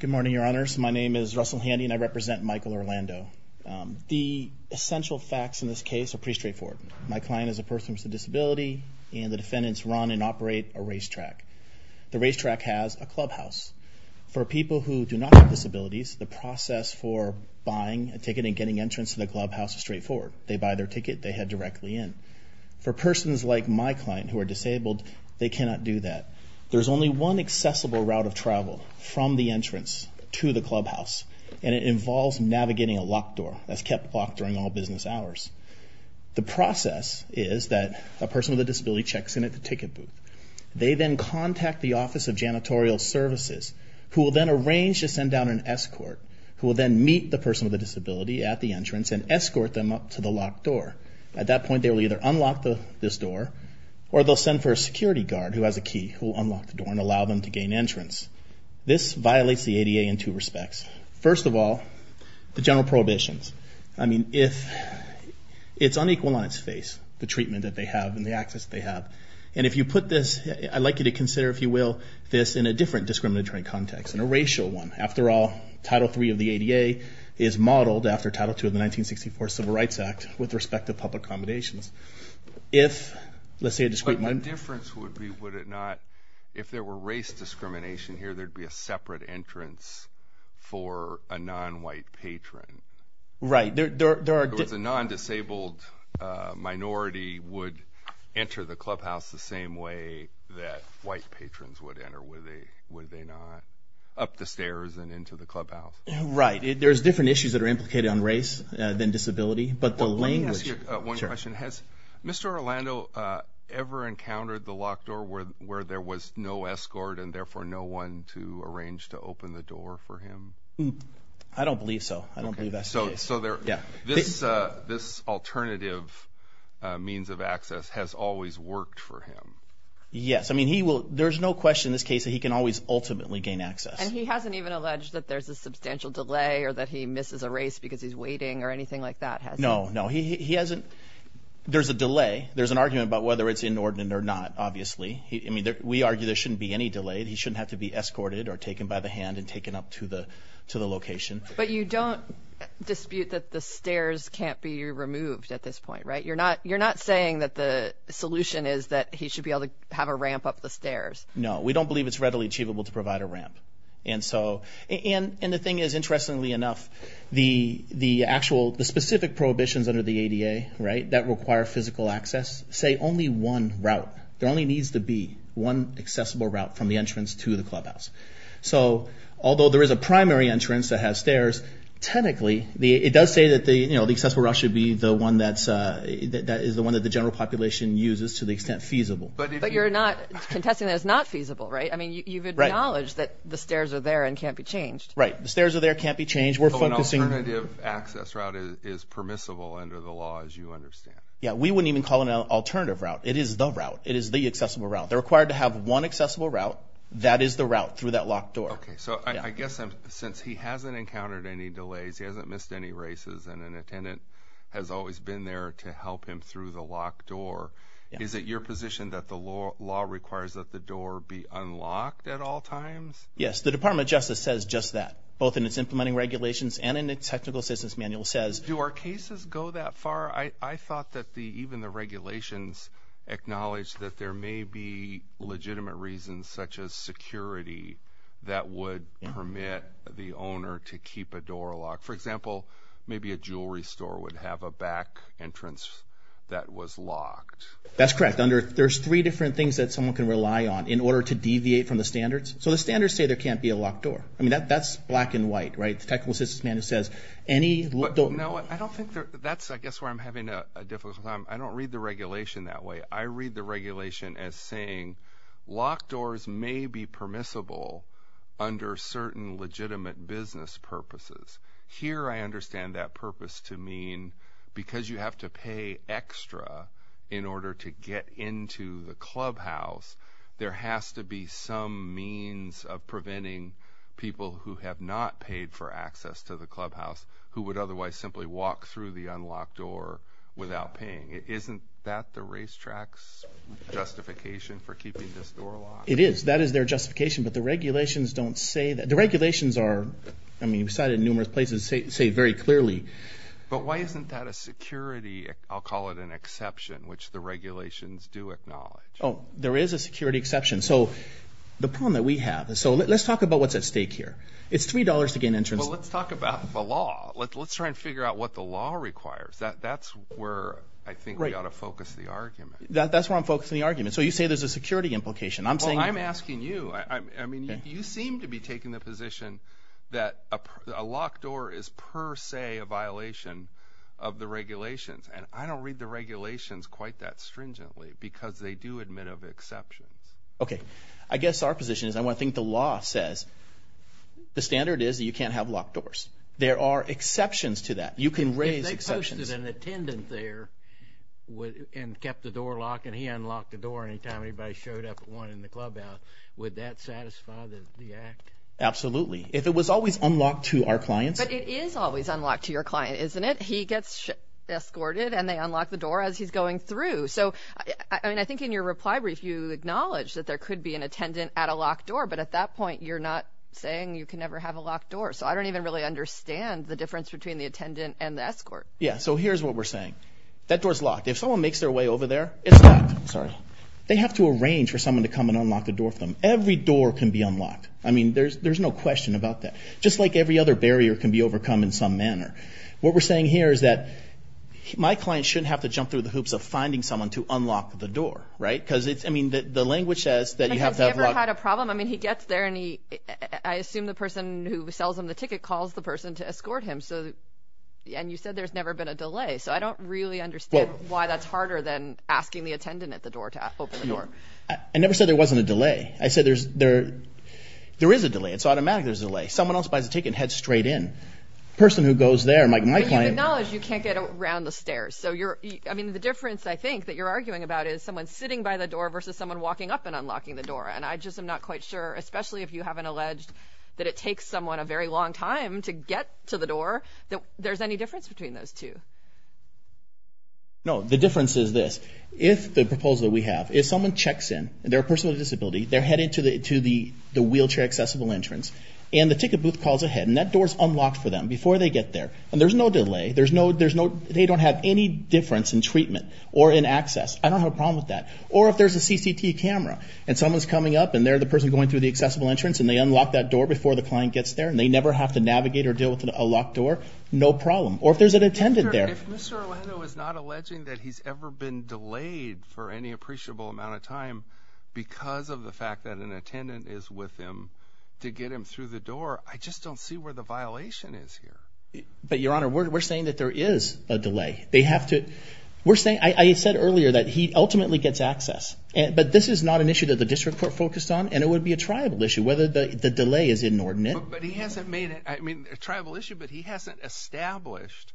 Good morning, Your Honors. My name is Russell Handy, and I represent Michael Orlando. The essential facts in this case are pretty straightforward. My client is a person with a disability, and the defendants run and operate a racetrack. The racetrack has a clubhouse. For people who do not have disabilities, the process for buying a ticket and getting entrance to the clubhouse is straightforward. They buy their ticket, they head directly in. For persons like my client who are disabled, they cannot do that. There's only one accessible route of travel from the entrance to the clubhouse, and it involves navigating a locked door that's kept locked during all business hours. The process is that a person with a disability checks in at the ticket booth. They then contact the Office of Janitorial Services, who will then arrange to send down an escort, who will then meet the person with a disability at the entrance and escort them up to the locked door. At that point, they will either unlock this door, or they'll send for a security guard who has a key, who will unlock the door and allow them to gain entrance. This violates the ADA in two respects. First of all, the general prohibitions. I mean, it's unequal on its face, the treatment that they have and the access they have. And if you put this, I'd like you to consider, if you will, this in a different discriminatory context, in a racial one. After all, Title III of the ADA is modeled after Title II of the 1964 Civil Rights Act with respect to public accommodations. If, let's say a discreet... But the difference would be, would it not, if there were race discrimination here, there'd be a separate entrance for a non-white patron. Right. There are... If it was a non-disabled minority would enter the clubhouse the same way that white patrons would enter, would they not? Up the stairs and into the clubhouse. Right. There's different issues that are implicated on race than disability, but the language... One question. Has Mr. Orlando ever encountered the locked door where there was no escort and therefore no one to arrange to open the door for him? I don't believe so. I don't believe that's the case. So this alternative means of access has always worked for him? Yes. I mean, there's no question in this case that he can always ultimately gain access. And he hasn't even alleged that there's a substantial delay or that he misses a race because he's waiting or anything like that, has he? No, no. He hasn't. There's a delay. There's an argument about whether it's inordinate or not, obviously. I mean, we argue there shouldn't be any delay. He shouldn't have to be escorted or taken by the hand and taken up to the location. But you don't dispute that the stairs can't be removed at this point, right? You're not saying that the solution is that he should be able to have a ramp up the stairs? No, we don't believe it's readily achievable to provide a ramp. And so... And the thing is, interestingly enough, the specific prohibitions under the ADA that require physical access say only one route. There only needs to be one accessible route from the entrance to the clubhouse. So although there is a primary entrance that has stairs, technically, it does say that the accessible route should be the one that is the one that the general population uses to the extent feasible. But you're not contesting that it's not feasible, right? I mean, you've acknowledged that the stairs are there and can't be changed. Right. The stairs are there, can't be changed. We're focusing... So an alternative access route is permissible under the law, as you understand. Yeah, we wouldn't even call it an alternative route. It is the route. It is the accessible route. They're required to have one accessible route. That is the route through that locked door. Okay. So I guess since he hasn't encountered any delays, he hasn't missed any races, and an attendant has always been there to help him through the locked door, is it your position that the law requires that the door be unlocked at all times? Yes. The Department of Justice says just that, both in its implementing regulations and in the technical assistance manual says... Do our cases go that far? I thought that even the regulations acknowledged that there may be legitimate reasons such as security that would permit the owner to keep a door locked. For example, maybe a jewelry store would have a back entrance that was locked. That's correct. There's three different things that someone can rely on in order to the technical assistance manual says any... No, I don't think that's I guess where I'm having a difficult time. I don't read the regulation that way. I read the regulation as saying locked doors may be permissible under certain legitimate business purposes. Here, I understand that purpose to mean because you have to pay extra in order to get into the clubhouse, there has to be some means of preventing people who have not paid for access to the clubhouse who would otherwise simply walk through the unlocked door without paying. Isn't that the racetrack's justification for keeping this door locked? It is. That is their justification, but the regulations don't say that. The regulations are, I mean, we've cited numerous places, say very clearly. But why isn't that a security, I'll call it an exception, which the regulations do acknowledge? Oh, there is a security exception. The problem that we have... Let's talk about what's at stake here. It's $3 to gain entrance. Well, let's talk about the law. Let's try and figure out what the law requires. That's where I think we ought to focus the argument. That's where I'm focusing the argument. You say there's a security implication. I'm saying... You seem to be taking the position that a locked door is per se a violation of the regulations. I don't read the regulations quite that stringently because they do admit of exceptions. Okay. I guess our position is I want to think the law says the standard is that you can't have locked doors. There are exceptions to that. You can raise... If they posted an attendant there and kept the door locked and he unlocked the door anytime anybody showed up at one in the clubhouse, would that satisfy the act? Absolutely. If it was always unlocked to our clients... But it is always unlocked to your client, isn't it? He gets escorted and they unlock the door as he's going through. I think in your reply brief, you acknowledged that there could be an attendant at a locked door, but at that point, you're not saying you can never have a locked door. I don't even really understand the difference between the attendant and the escort. Yeah. Here's what we're saying. That door's locked. If someone makes their way over there, it's locked. Sorry. They have to arrange for someone to come and unlock the door for them. Every door can be unlocked. I mean, there's no question about that. Just like every other barrier can be overcome in some manner. What we're saying here is that my client shouldn't have to jump through the hoops of finding someone to unlock the door, right? Because the language says that you have to have locked... Has he ever had a problem? I mean, he gets there and I assume the person who sells him the ticket calls the person to escort him. And you said there's never been a delay. So I don't really understand why that's harder than asking the attendant at the door to open the door. I never said there wasn't a delay. I said there is a delay. It's automatic there's a delay. Someone else buys a ticket and heads straight in. Person who goes there, like my client... But you acknowledge you can't get around the stairs. So I mean, the difference I think that you're arguing about is someone sitting by the door versus someone walking up and unlocking the door. And I just am not quite sure, especially if you haven't alleged that it takes someone a very long time to get to the door, that there's difference between those two. No, the difference is this. If the proposal we have, if someone checks in and they're a person with a disability, they're headed to the wheelchair accessible entrance and the ticket booth calls ahead and that door is unlocked for them before they get there. And there's no delay. They don't have any difference in treatment or in access. I don't have a problem with that. Or if there's a CCT camera and someone's coming up and they're the person going through the accessible entrance and they unlock that door before the client gets there and they never have to navigate or deal with a locked door, no problem. Or if there's an attendant there... If Mr. Orlando is not alleging that he's ever been delayed for any appreciable amount of time because of the fact that an attendant is with him to get him through the door, I just don't see where the violation is here. But Your Honor, we're saying that there is a delay. They have to... We're saying... I said earlier that he ultimately gets access, but this is not an issue that the district court focused on and it would be a tribal issue whether the delay is inordinate. But he hasn't made it, I mean a tribal issue, but he hasn't established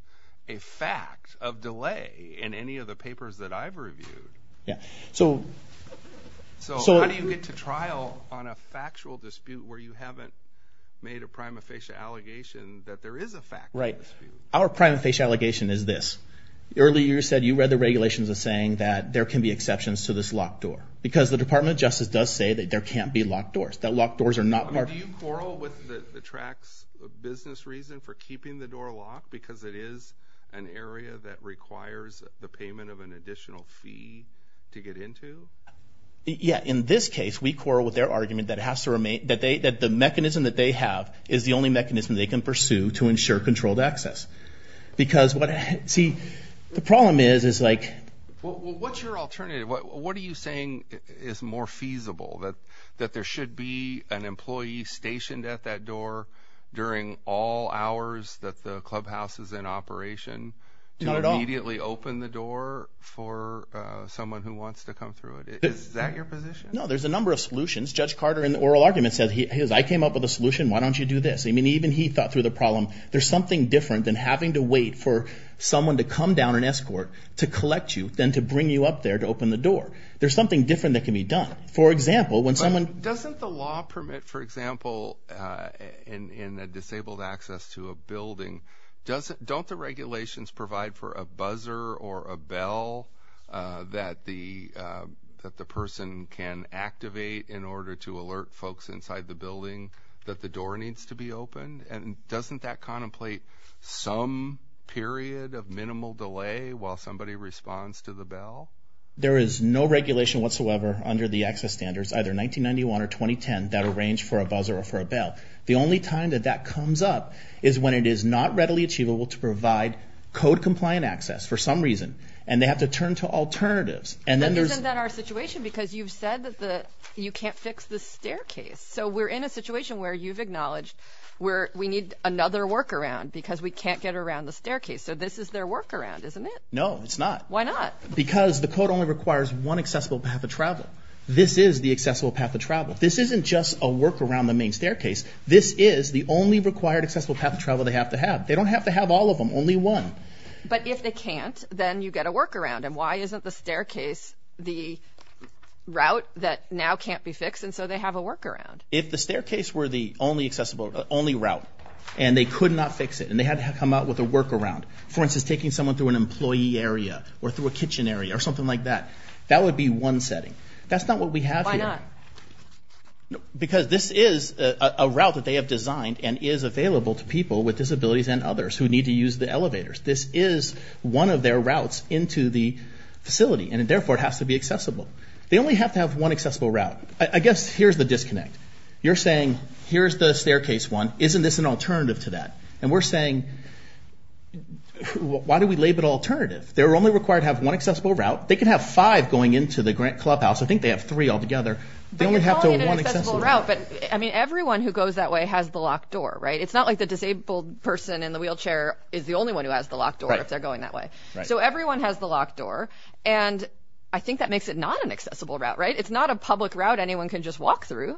a fact of delay in any of the papers that I've reviewed. Yeah, so... So how do you get to trial on a factual dispute where you haven't made a prima facie allegation that there is a fact? Right. Our prima facie allegation is this. Earlier you said you read the regulations as saying that there can be exceptions to this locked door. Because the Department of Justice does say that there can't be locked doors. That locked doors are not... Do you quarrel with the TRAC's business reason for keeping the door locked because it is an area that requires the payment of an additional fee to get into? Yeah, in this case we quarrel with their argument that has to remain... That they... That the mechanism that they have is the only mechanism they can pursue to ensure controlled access. Because what... See, the problem is, is like... What's your alternative? What are you saying is more feasible? That there should be an employee stationed at that door during all hours that the clubhouse is in operation to immediately open the door for someone who wants to come through it? Is that your position? No, there's a number of solutions. Judge Carter in the oral argument said he... He goes, I came up with a solution, why don't you do this? I mean even he thought through the problem. There's something different than having to wait for someone to come down and escort to collect you, than to bring you up there to open the door. There's something different that can be done. For example, when someone... Doesn't the law permit, for example, in a disabled access to a building, doesn't... Don't the regulations provide for a buzzer or a bell that the person can activate in order to alert folks inside the building that the door needs to be opened? And doesn't that contemplate some period of minimal delay while somebody responds to the bell? There is no regulation whatsoever under the access standards, either 1991 or 2010, that arranged for a buzzer or for a bell. The only time that that comes up is when it is not readily achievable to provide code compliant access for some reason, and they have to turn to alternatives. And then there's... Isn't that our situation? Because you've said that the... You can't fix the staircase. So we're in a situation where you've acknowledged where we need another workaround because we can't get around the staircase. So this is their workaround, isn't it? No, it's not. Why not? Because the code only requires one accessible path of travel. This is the accessible path of travel. This isn't just a workaround the main staircase. This is the only required accessible path of travel they have to have. They don't have to have all of them, only one. But if they can't, then you get a workaround. And why isn't the staircase the route that now can't be fixed? And so they have a If the staircase were the only accessible, only route, and they could not fix it, and they had to come out with a workaround, for instance, taking someone through an employee area or through a kitchen area or something like that, that would be one setting. That's not what we have here. Why not? Because this is a route that they have designed and is available to people with disabilities and others who need to use the elevators. This is one of their routes into the facility, and therefore it has to be accessible. They only have to have one accessible route. I guess here's the disconnect. You're saying, here's the staircase one. Isn't this an alternative to that? And we're saying, why do we label it alternative? They're only required to have one accessible route. They can have five going into the Grant Clubhouse. I think they have three all together. They only have to have one accessible route. But I mean, everyone who goes that way has the locked door, right? It's not like the disabled person in the wheelchair is the only one who has the locked door if they're going that way. So everyone has the locked door. And I think that makes it not an accessible route, right? It's not a public route anyone can just walk through.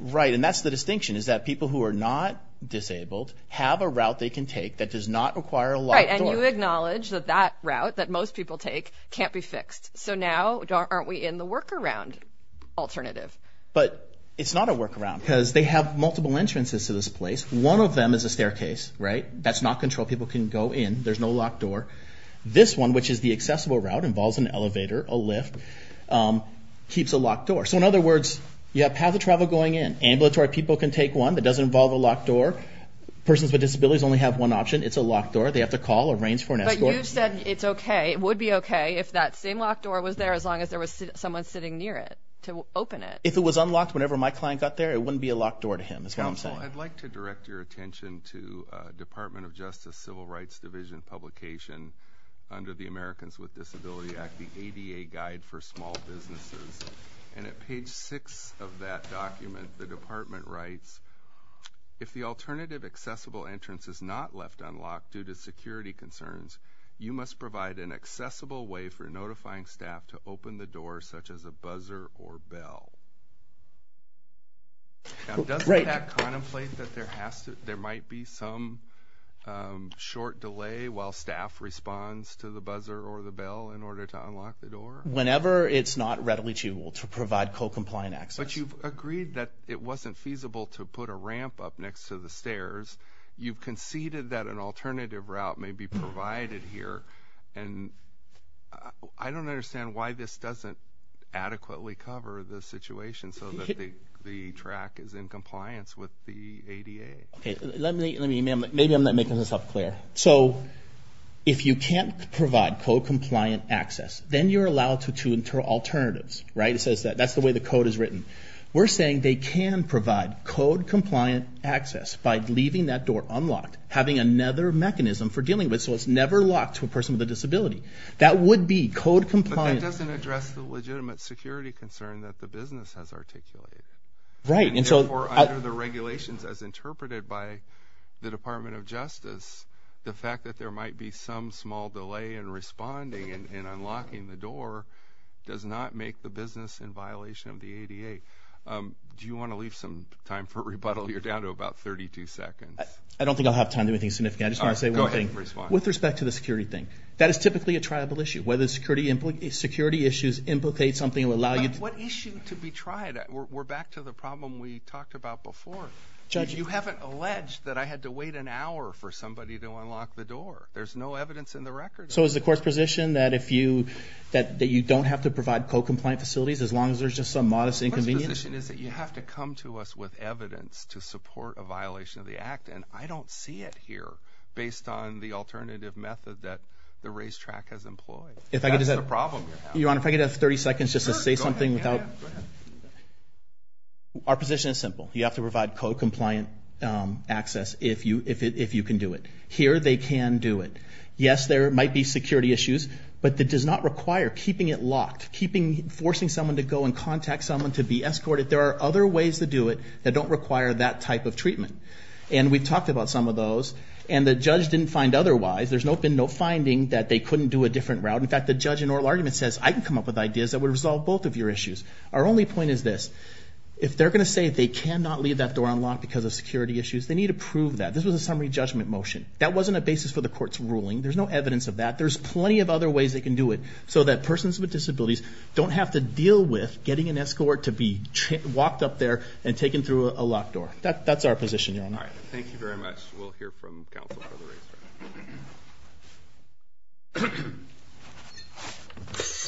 Right. And that's the distinction, is that people who are not disabled have a route they can take that does not require a locked door. Right. And you acknowledge that that route that most people take can't be fixed. So now aren't we in the workaround alternative? But it's not a workaround because they have multiple entrances to this place. One of them is a staircase, right? That's not controlled. People can go in. There's no locked door. This one, which is the accessible route, involves an elevator, a lift, keeps a locked door. So in other words, you have path of travel going in. Ambulatory people can take one that doesn't involve a locked door. Persons with disabilities only have one option. It's a locked door. They have to call, arrange for an escort. But you said it's okay. It would be okay if that same locked door was there as long as there was someone sitting near it to open it. If it was unlocked whenever my client got there, it wouldn't be a locked door to him, is what I'm saying. Council, I'd like to direct your attention to Department of Justice Civil Rights Division publication under the Americans with Disabilities Act, the ADA guide for small businesses. And at page six of that document, the department writes, if the alternative accessible entrance is not left unlocked due to security concerns, you must provide an accessible way for notifying staff to open the door such as a buzzer or bell. Now, doesn't that contemplate that there might be some short delay while staff responds to the buzzer or the bell in order to unlock the door? Whenever it's not readily achievable to provide co-compliant access. But you've agreed that it wasn't feasible to put a ramp up next to the stairs. You've conceded that an alternative route may be provided here. And I don't understand why this doesn't adequately cover the situation so that the track is in compliance with the ADA. Let me, maybe I'm not making myself clear. So if you can't provide co-compliant access, then you're allowed to enter alternatives, right? That's the way the code is written. We're saying they can provide co-compliant access by leaving that door unlocked, having another mechanism for dealing with it so it's never locked to a person with a disability. That would be co-compliant. But that doesn't address the legitimate security concern that the business has articulated. And therefore, under the regulations as interpreted by the Department of Justice, the fact that there might be some small delay in responding and unlocking the door does not make the business in violation of the ADA. Do you want to leave some time for rebuttal? You're down to about 32 seconds. I don't think I'll have time to do anything significant. I just want to say one thing. Go ahead and respond. With respect to the security thing, that is typically a triable issue. Security issues implicate something that will allow you to- We're back to the problem we talked about before. You haven't alleged that I had to wait an hour for somebody to unlock the door. There's no evidence in the record. So is the court's position that you don't have to provide co-compliant facilities as long as there's just some modest inconvenience? The court's position is that you have to come to us with evidence to support a violation of the Act, and I don't see it here based on the alternative method that the racetrack has employed. That's the problem you're having. Your Honor, if I could have 30 seconds just to say something without- Our position is simple. You have to provide co-compliant access if you can do it. Here, they can do it. Yes, there might be security issues, but that does not require keeping it locked, forcing someone to go and contact someone to be escorted. There are other ways to do it that don't require that type of treatment. And we've talked about some of those, and the judge didn't find otherwise. There's been no finding that they couldn't do a different route. In fact, the judge in oral argument says, I can come up with ideas that would resolve both of your issues. Our only point is this. If they're going to say they cannot leave that door unlocked because of security issues, they need to prove that. This was a summary judgment motion. That wasn't a basis for the court's ruling. There's no evidence of that. There's plenty of other ways they can do it so that persons with disabilities don't have to deal with getting an escort to be walked up there and taken through a locked door. That's our position, Your Honor. All right. Thank you very much. We'll hear from counsel for the racetrack.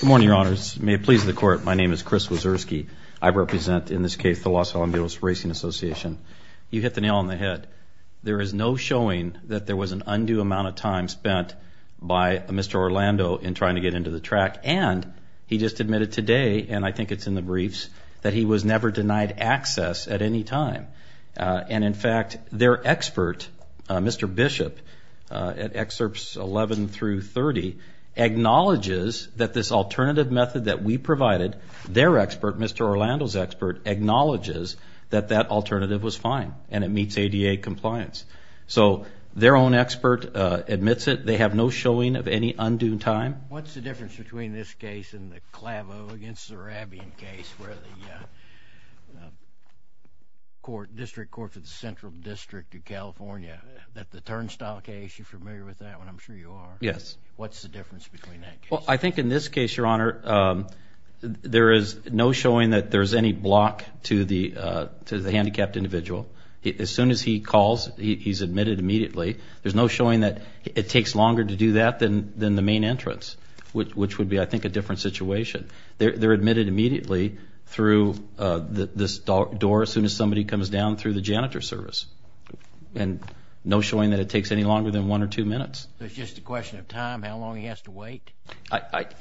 Good morning, Your Honors. May it please the court. My name is Chris Wazurski. I represent, in this case, the Los Alamos Racing Association. You hit the nail on the head. There is no showing that there was an undue amount of time spent by Mr. Orlando in trying to get into the track. And he just admitted today, and I think it's in the briefs, that he was never denied access at any time. And in fact, their expert, Mr. Bishop, at excerpts 11 through 30, acknowledges that this alternative method that we provided, their expert, Mr. Orlando's expert, acknowledges that that alternative was fine and it meets ADA compliance. So their own expert admits it. They have no showing of any undue time. What's the difference between this case and the Clavo against the Rabian case where the district court for the Central District of California, that the turnstile case, you're familiar with that one. I'm sure you are. Yes. What's the difference between that case? Well, I think in this case, Your Honor, there is no showing that there's any block to the handicapped individual. As soon as he calls, he's admitted immediately. There's no showing that it takes longer to do that than the main entrance, which would be, I think, a different situation. They're admitted immediately through this door as soon as somebody comes down through the janitor service. And no showing that it takes any longer than one or two minutes. It's just a question of time, how long he has to wait?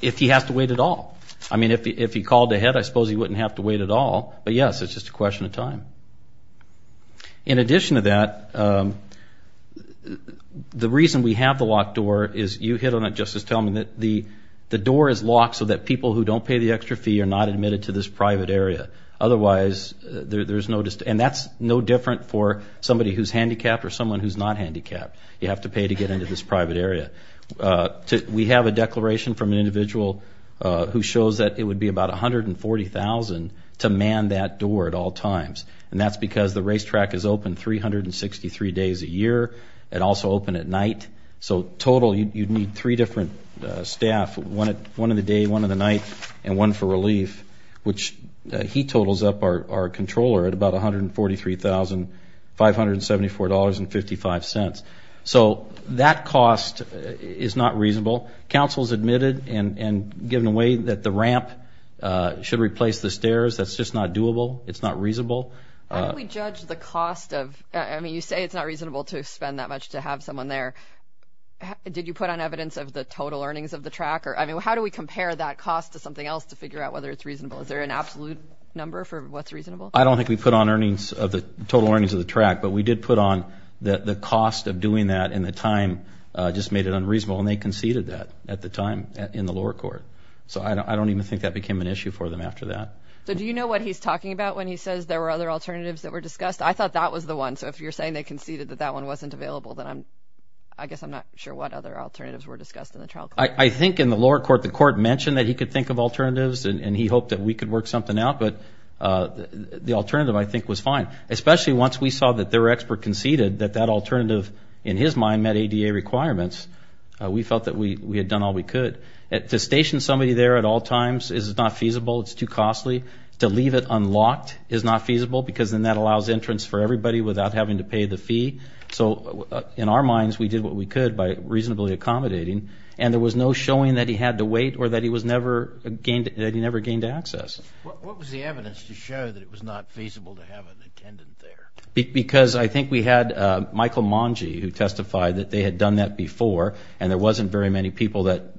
If he has to wait at all. I mean, if he called ahead, I suppose he wouldn't have to wait at all. But yes, it's just a question of time. In addition to that, the reason we have the locked door is, you hit on it, Justice Tillman, that the door is locked so that people who don't pay the extra fee are not admitted to this private area. Otherwise, there's no... And that's no different for somebody who's handicapped or someone who's not handicapped. You have to pay to get into this private area. We have a declaration from an individual who shows that it would be about $140,000 to man that door at all times. And that's because the racetrack is open 363 days a year. It also open at night. So total, you'd need three different staff, one of the day, one of the night, and one for relief, which he totals up our controller at about $143,574.55. So that cost is not reasonable. Council's admitted and given away that the ramp should replace the stairs. That's just not doable. It's not reasonable. How do we judge the cost of... I mean, you say it's not reasonable to spend that much to have someone there. Did you put on evidence of the total earnings of the track? Or I mean, how do we compare that cost to something else to figure out whether it's reasonable? Is there an absolute number for what's reasonable? I don't think we put on earnings of the total earnings of the track, but we did put on that the cost of doing that in the time just made it unreasonable. And they conceded that at the time in the lower court. So I don't even think that became an issue for them after that. So do you know what he's talking about when he says there were other alternatives that were discussed? I thought that was the one. So if you're saying they conceded that that one wasn't available, then I guess I'm not sure what other alternatives were discussed in the trial. I think in the lower court, the court mentioned that he could think of alternatives and he hoped that we could work something out. But the alternative, I think, was fine, especially once we saw that their expert conceded that that alternative, in his mind, met ADA requirements. We felt that we had done all we could. To station somebody there at all times is not feasible. It's too costly. To leave it unlocked is not feasible because then that allows entrance for everybody without having to pay the fee. So in our minds, we did what we could by reasonably accommodating. And there was no showing that he had to wait or that he never gained access. What was the evidence to show that it was not feasible to have an attendant there? Because I think we had Michael Mangy who testified that they had done that before and there wasn't very many people that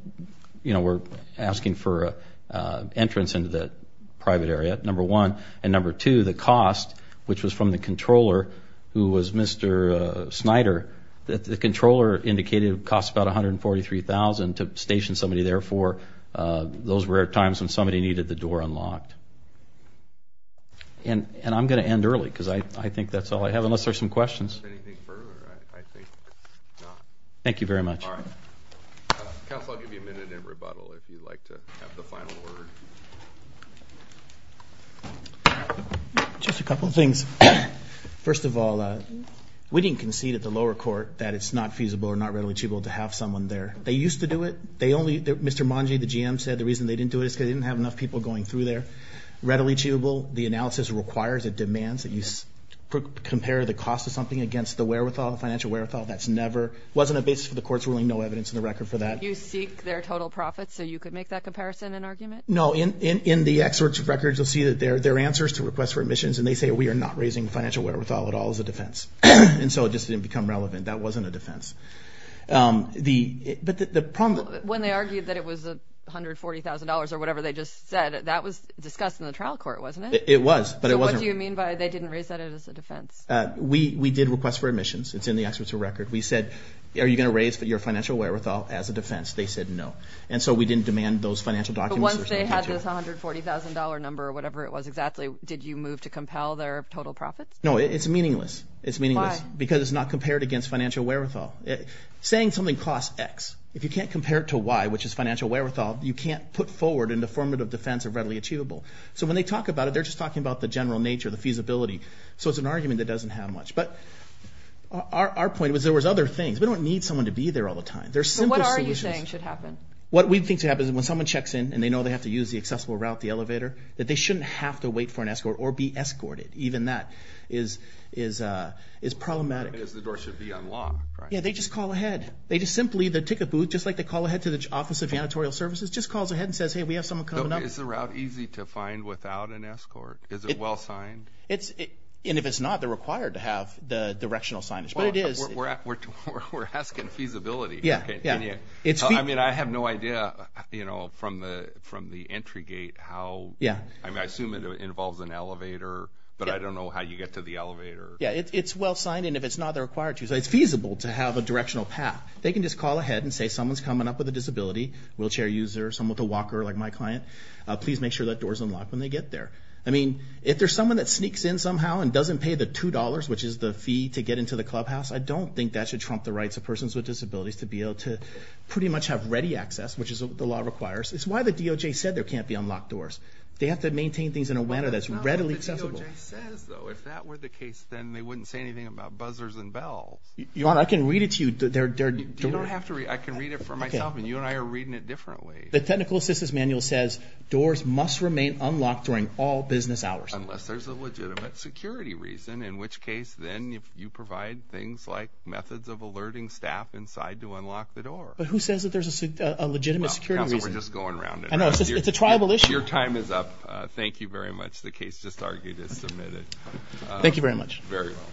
were asking for entrance into the private area, number one. And number two, the cost, which was from the controller, who was Mr. Snyder, that the controller indicated it costs about $143,000 to station somebody there those were times when somebody needed the door unlocked. And I'm going to end early because I think that's all I have, unless there's some questions. Thank you very much. All right. Counsel, I'll give you a minute in rebuttal if you'd like to have the final word. Just a couple of things. First of all, we didn't concede at the lower court that it's not feasible or not readily achievable to have someone there. They used to do it. Mr. Mangy, the GM, said the reason they didn't do it is because they didn't have enough people going through there. Readily achievable, the analysis requires, it demands, that you compare the cost of something against the wherewithal, the financial wherewithal. That's never, wasn't a basis for the court's ruling, no evidence in the record for that. You seek their total profits so you could make that comparison and argument? No, in the excerpts of records, you'll see that they're answers to requests for admissions and they say we are not raising financial wherewithal at all as a defense. And so it just didn't become relevant. That wasn't a defense. But the problem... When they argued that it was $140,000 or whatever they just said, that was discussed in the trial court, wasn't it? It was, but it wasn't... What do you mean by they didn't raise that as a defense? We did requests for admissions. It's in the excerpts of record. We said, are you going to raise your financial wherewithal as a defense? They said no. And so we didn't demand those financial documents. But once they had this $140,000 number or whatever it was exactly, did you move to compel their total profits? No, it's meaningless. It's meaningless. Because it's not compared against financial wherewithal. Saying something costs X. If you can't compare it to Y, which is financial wherewithal, you can't put forward in the formative defense of readily achievable. So when they talk about it, they're just talking about the general nature, the feasibility. So it's an argument that doesn't have much. But our point was there was other things. We don't need someone to be there all the time. There's simple solutions. So what are you saying should happen? What we think should happen is when someone checks in and they know they have to use the accessible route, the elevator, that they shouldn't have to wait for an escort or be escorted. Even that is problematic. Because the door should be unlocked, right? Yeah, they just call ahead. They just simply, the ticket booth, just like they call ahead to the Office of Janitorial Services, just calls ahead and says, hey, we have someone coming up. Is the route easy to find without an escort? Is it well signed? And if it's not, they're required to have the directional signage. But it is. We're asking feasibility. Yeah, yeah. I mean, I have no idea, you know, from the entry gate, how, I assume it involves an elevator. But I don't know how you get to the elevator. Yeah, it's well signed. And if it's not, they're required to. It's feasible to have a directional path. They can just call ahead and say, someone's coming up with a disability, wheelchair user, someone with a walker, like my client. Please make sure that door's unlocked when they get there. I mean, if there's someone that sneaks in somehow and doesn't pay the $2, which is the fee to get into the clubhouse, I don't think that should trump the rights of persons with disabilities to be able to pretty much have ready access, which is what the law requires. It's why the DOJ said there can't be unlocked doors. They have to maintain things in a manner that's readily accessible. Well, the DOJ says, though, if that were the case, then they wouldn't say anything about buzzers and bells. Your Honor, I can read it to you. You don't have to read it. I can read it for myself. And you and I are reading it differently. The technical assistance manual says, doors must remain unlocked during all business hours. Unless there's a legitimate security reason, in which case, then you provide things like methods of alerting staff inside to unlock the door. But who says that there's a legitimate security reason? We're just going around it. I know, it's a tribal issue. Your time is up. Thank you very much. The case just argued is submitted. Thank you very much. Very well.